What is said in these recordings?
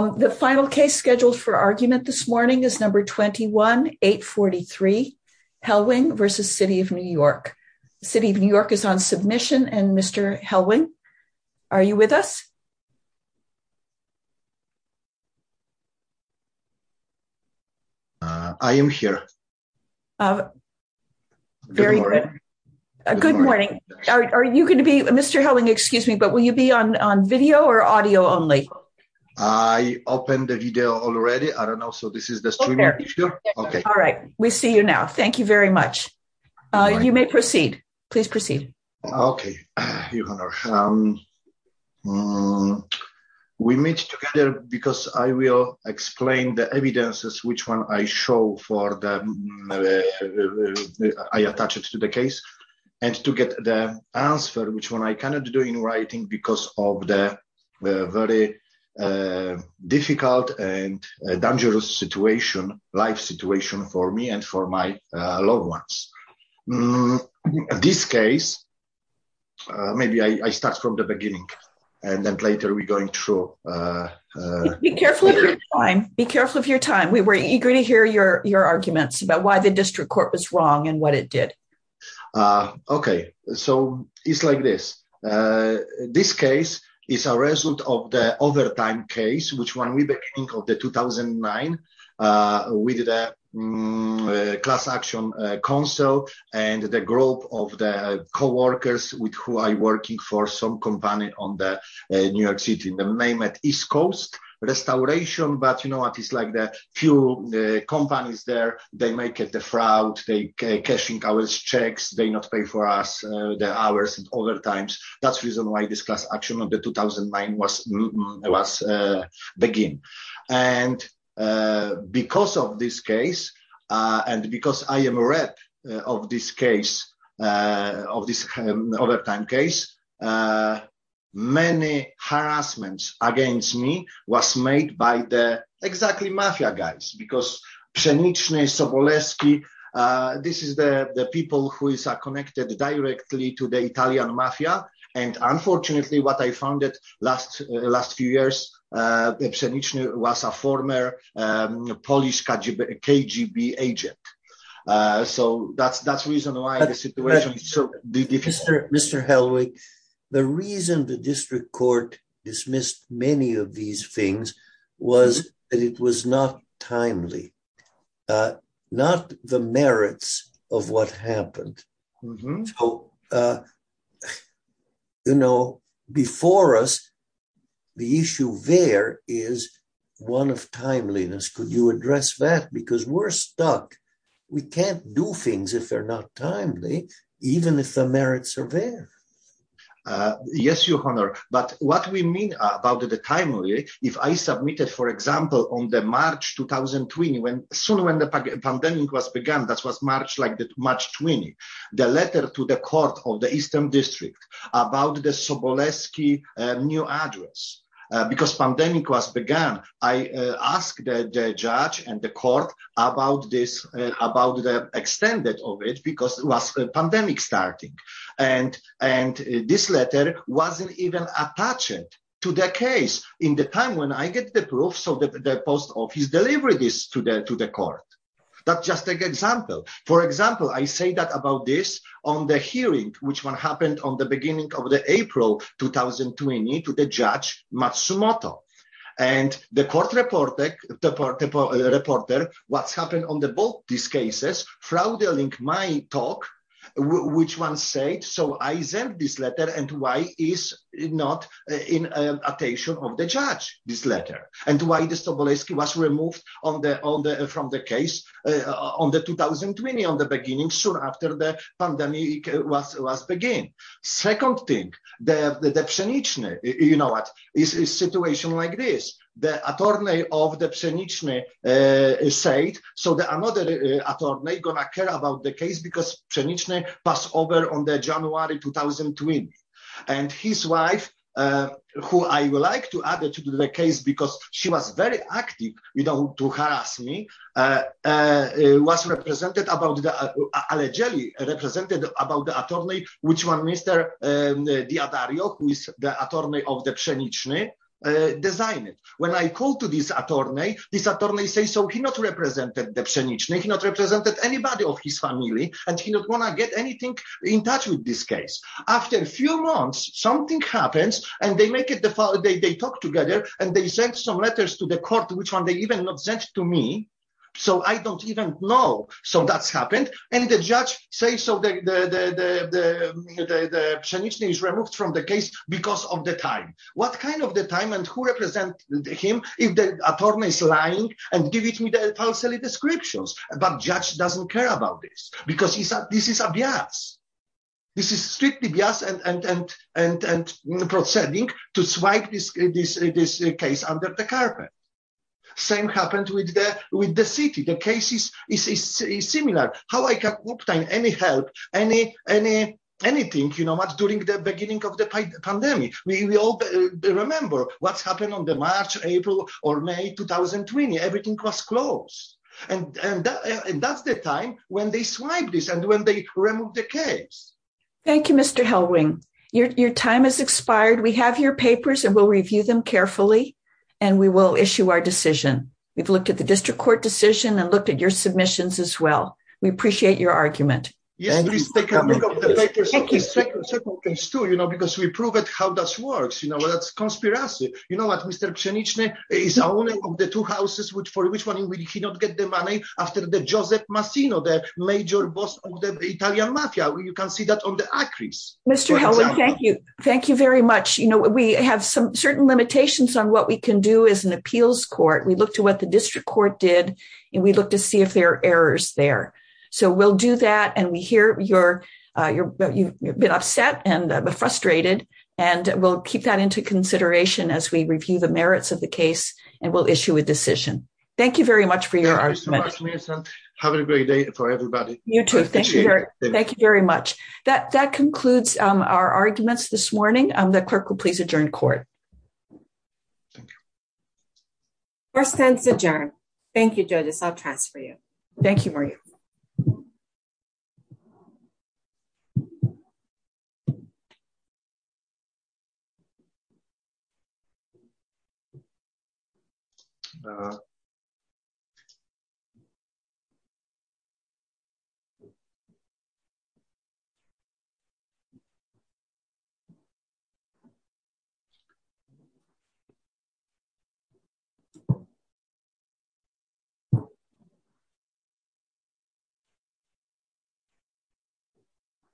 The final case scheduled for argument this morning is number 21-843 Helwing v. City of New York. City of New York is on submission and Mr. Helwing, are you with us? I am here. Very good. Good morning. Mr. Helwing, excuse me, but will you be on video or audio only? I opened the video already. I don't know. So this is the streaming. All right. We see you now. Thank you very much. You may proceed. Please proceed. Okay. We meet together because I will explain the evidences which one I show for the I attach it to the case and to get the answer which one I cannot do in writing because of the very difficult and dangerous situation, life situation for me and for my loved ones. This case, maybe I start from the beginning and then later we're going through. Be careful of your time. Be careful of your time. We were eager to hear your arguments about why the district court was wrong and what it did. Okay. So it's like this. This case is a result of the overtime case which we began in 2009 with the class action council and the group of the co-workers with who are working for some company on the New York City, the name at East Coast Restoration. But you know what, the few companies there, they make the fraud, they cash in our checks, they not pay for us the hours and other times. That's the reason why this class action on the 2009 was begin. And because of this case and because I am a rep of this case, of this overtime case, many harassments against me was made by the exactly mafia guys because Przeniczny, Sobolewski, this is the people who are connected directly to the Italian mafia and unfortunately what I found it last few years, Przeniczny was a former Polish KGB agent. So that's the reason why the situation so. Mr. Helwig, the reason the district court dismissed many of these things was that it was not timely, not the merits of what happened. So, you know, before us the issue there is one of timeliness. Could you address that? Because we're timely even if the merits are there. Yes, Your Honor, but what we mean about the timely, if I submitted, for example, on the March 2020, when soon when the pandemic was begun, that was March like the March 20, the letter to the court of the Eastern District about the Sobolewski new address because pandemic was begun. I asked the judge and the court about this, about the extended of it because it was a pandemic starting and this letter wasn't even attached to the case in the time when I get the proof, so the post office delivered this to the court. That's just an example. For example, I say that about this on the hearing which one happened on the beginning of the April 2020 to the judge Matsumoto and the court reported what's happened on both these cases throttling my talk which one said so I sent this letter and why is not in attention of the judge this letter and why the Sobolewski was removed from the case on the 2020 on the beginning soon after the pandemic was began. Second thing, the Przeniczny, you know what, is a situation like the attorney of the Przeniczny said so the another attorney gonna care about the case because Przeniczny passed over on the January 2020 and his wife who I would like to add to the case because she was very active you know to harass me was represented about the allegedly represented about the attorney which one Mr. Diodario who is the attorney of the Przeniczny designed it. When I call to this attorney, this attorney say so he not represented the Przeniczny, he not represented anybody of his family and he don't want to get anything in touch with this case. After a few months something happens and they make it they talk together and they send some letters to the court which one they even not sent to me so I don't even know so that's happened and the judge say so the Przeniczny is removed from the case because of the time. What kind of the time and who represented him if the attorney is lying and give it to me the false descriptions but judge doesn't care about this because he said this is a bias, this is strictly bias and proceeding to swipe this case under the carpet. Same happened with the city, the case is similar, how I can obtain any help, anything you know much during the beginning of the pandemic. We all remember what's happened on the March, April or May 2020, everything was closed and that's the time when they swipe this and when they remove the case. Thank you Mr. Helwing. Your time has expired, we have your papers and we'll review them carefully and we will issue our decision. We've looked at the district court decision and looked at your submissions as well. We appreciate your argument. Yes, please take a look at the papers, second case too you know because we prove it how this works you know that's conspiracy. You know what Mr. Przeniczny is the owner of the two houses which for which one he did not get the money after the Joseph Massino, the major boss of the Italian mafia. You can see that on the accuracy. Mr. Helwing, thank you, thank you very much. You know we have some certain limitations on what we can do as an appeals court. We look to what the district court did and we look to see if there are errors there. So we'll do that and we hear you've been upset and frustrated and we'll keep that into consideration as we review the merits of the case and we'll issue a decision. Thank you very much for your argument. Thank you so much, have a great day for everybody. You too, thank you very much. That concludes our arguments this morning, the clerk will please adjourn court. Thank you. Court stands adjourned. Thank you, Judas, I'll transfer you. Thank you, Maria.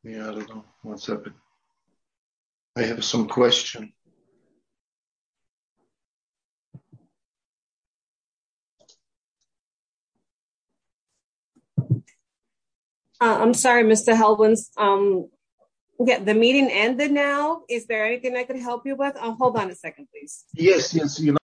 Yeah, I don't know what's up. I have some questions. I'm sorry Mr. Helwins, the meeting ended now. Is there anything I can help you with? Hold on a second, please. Yes, yes.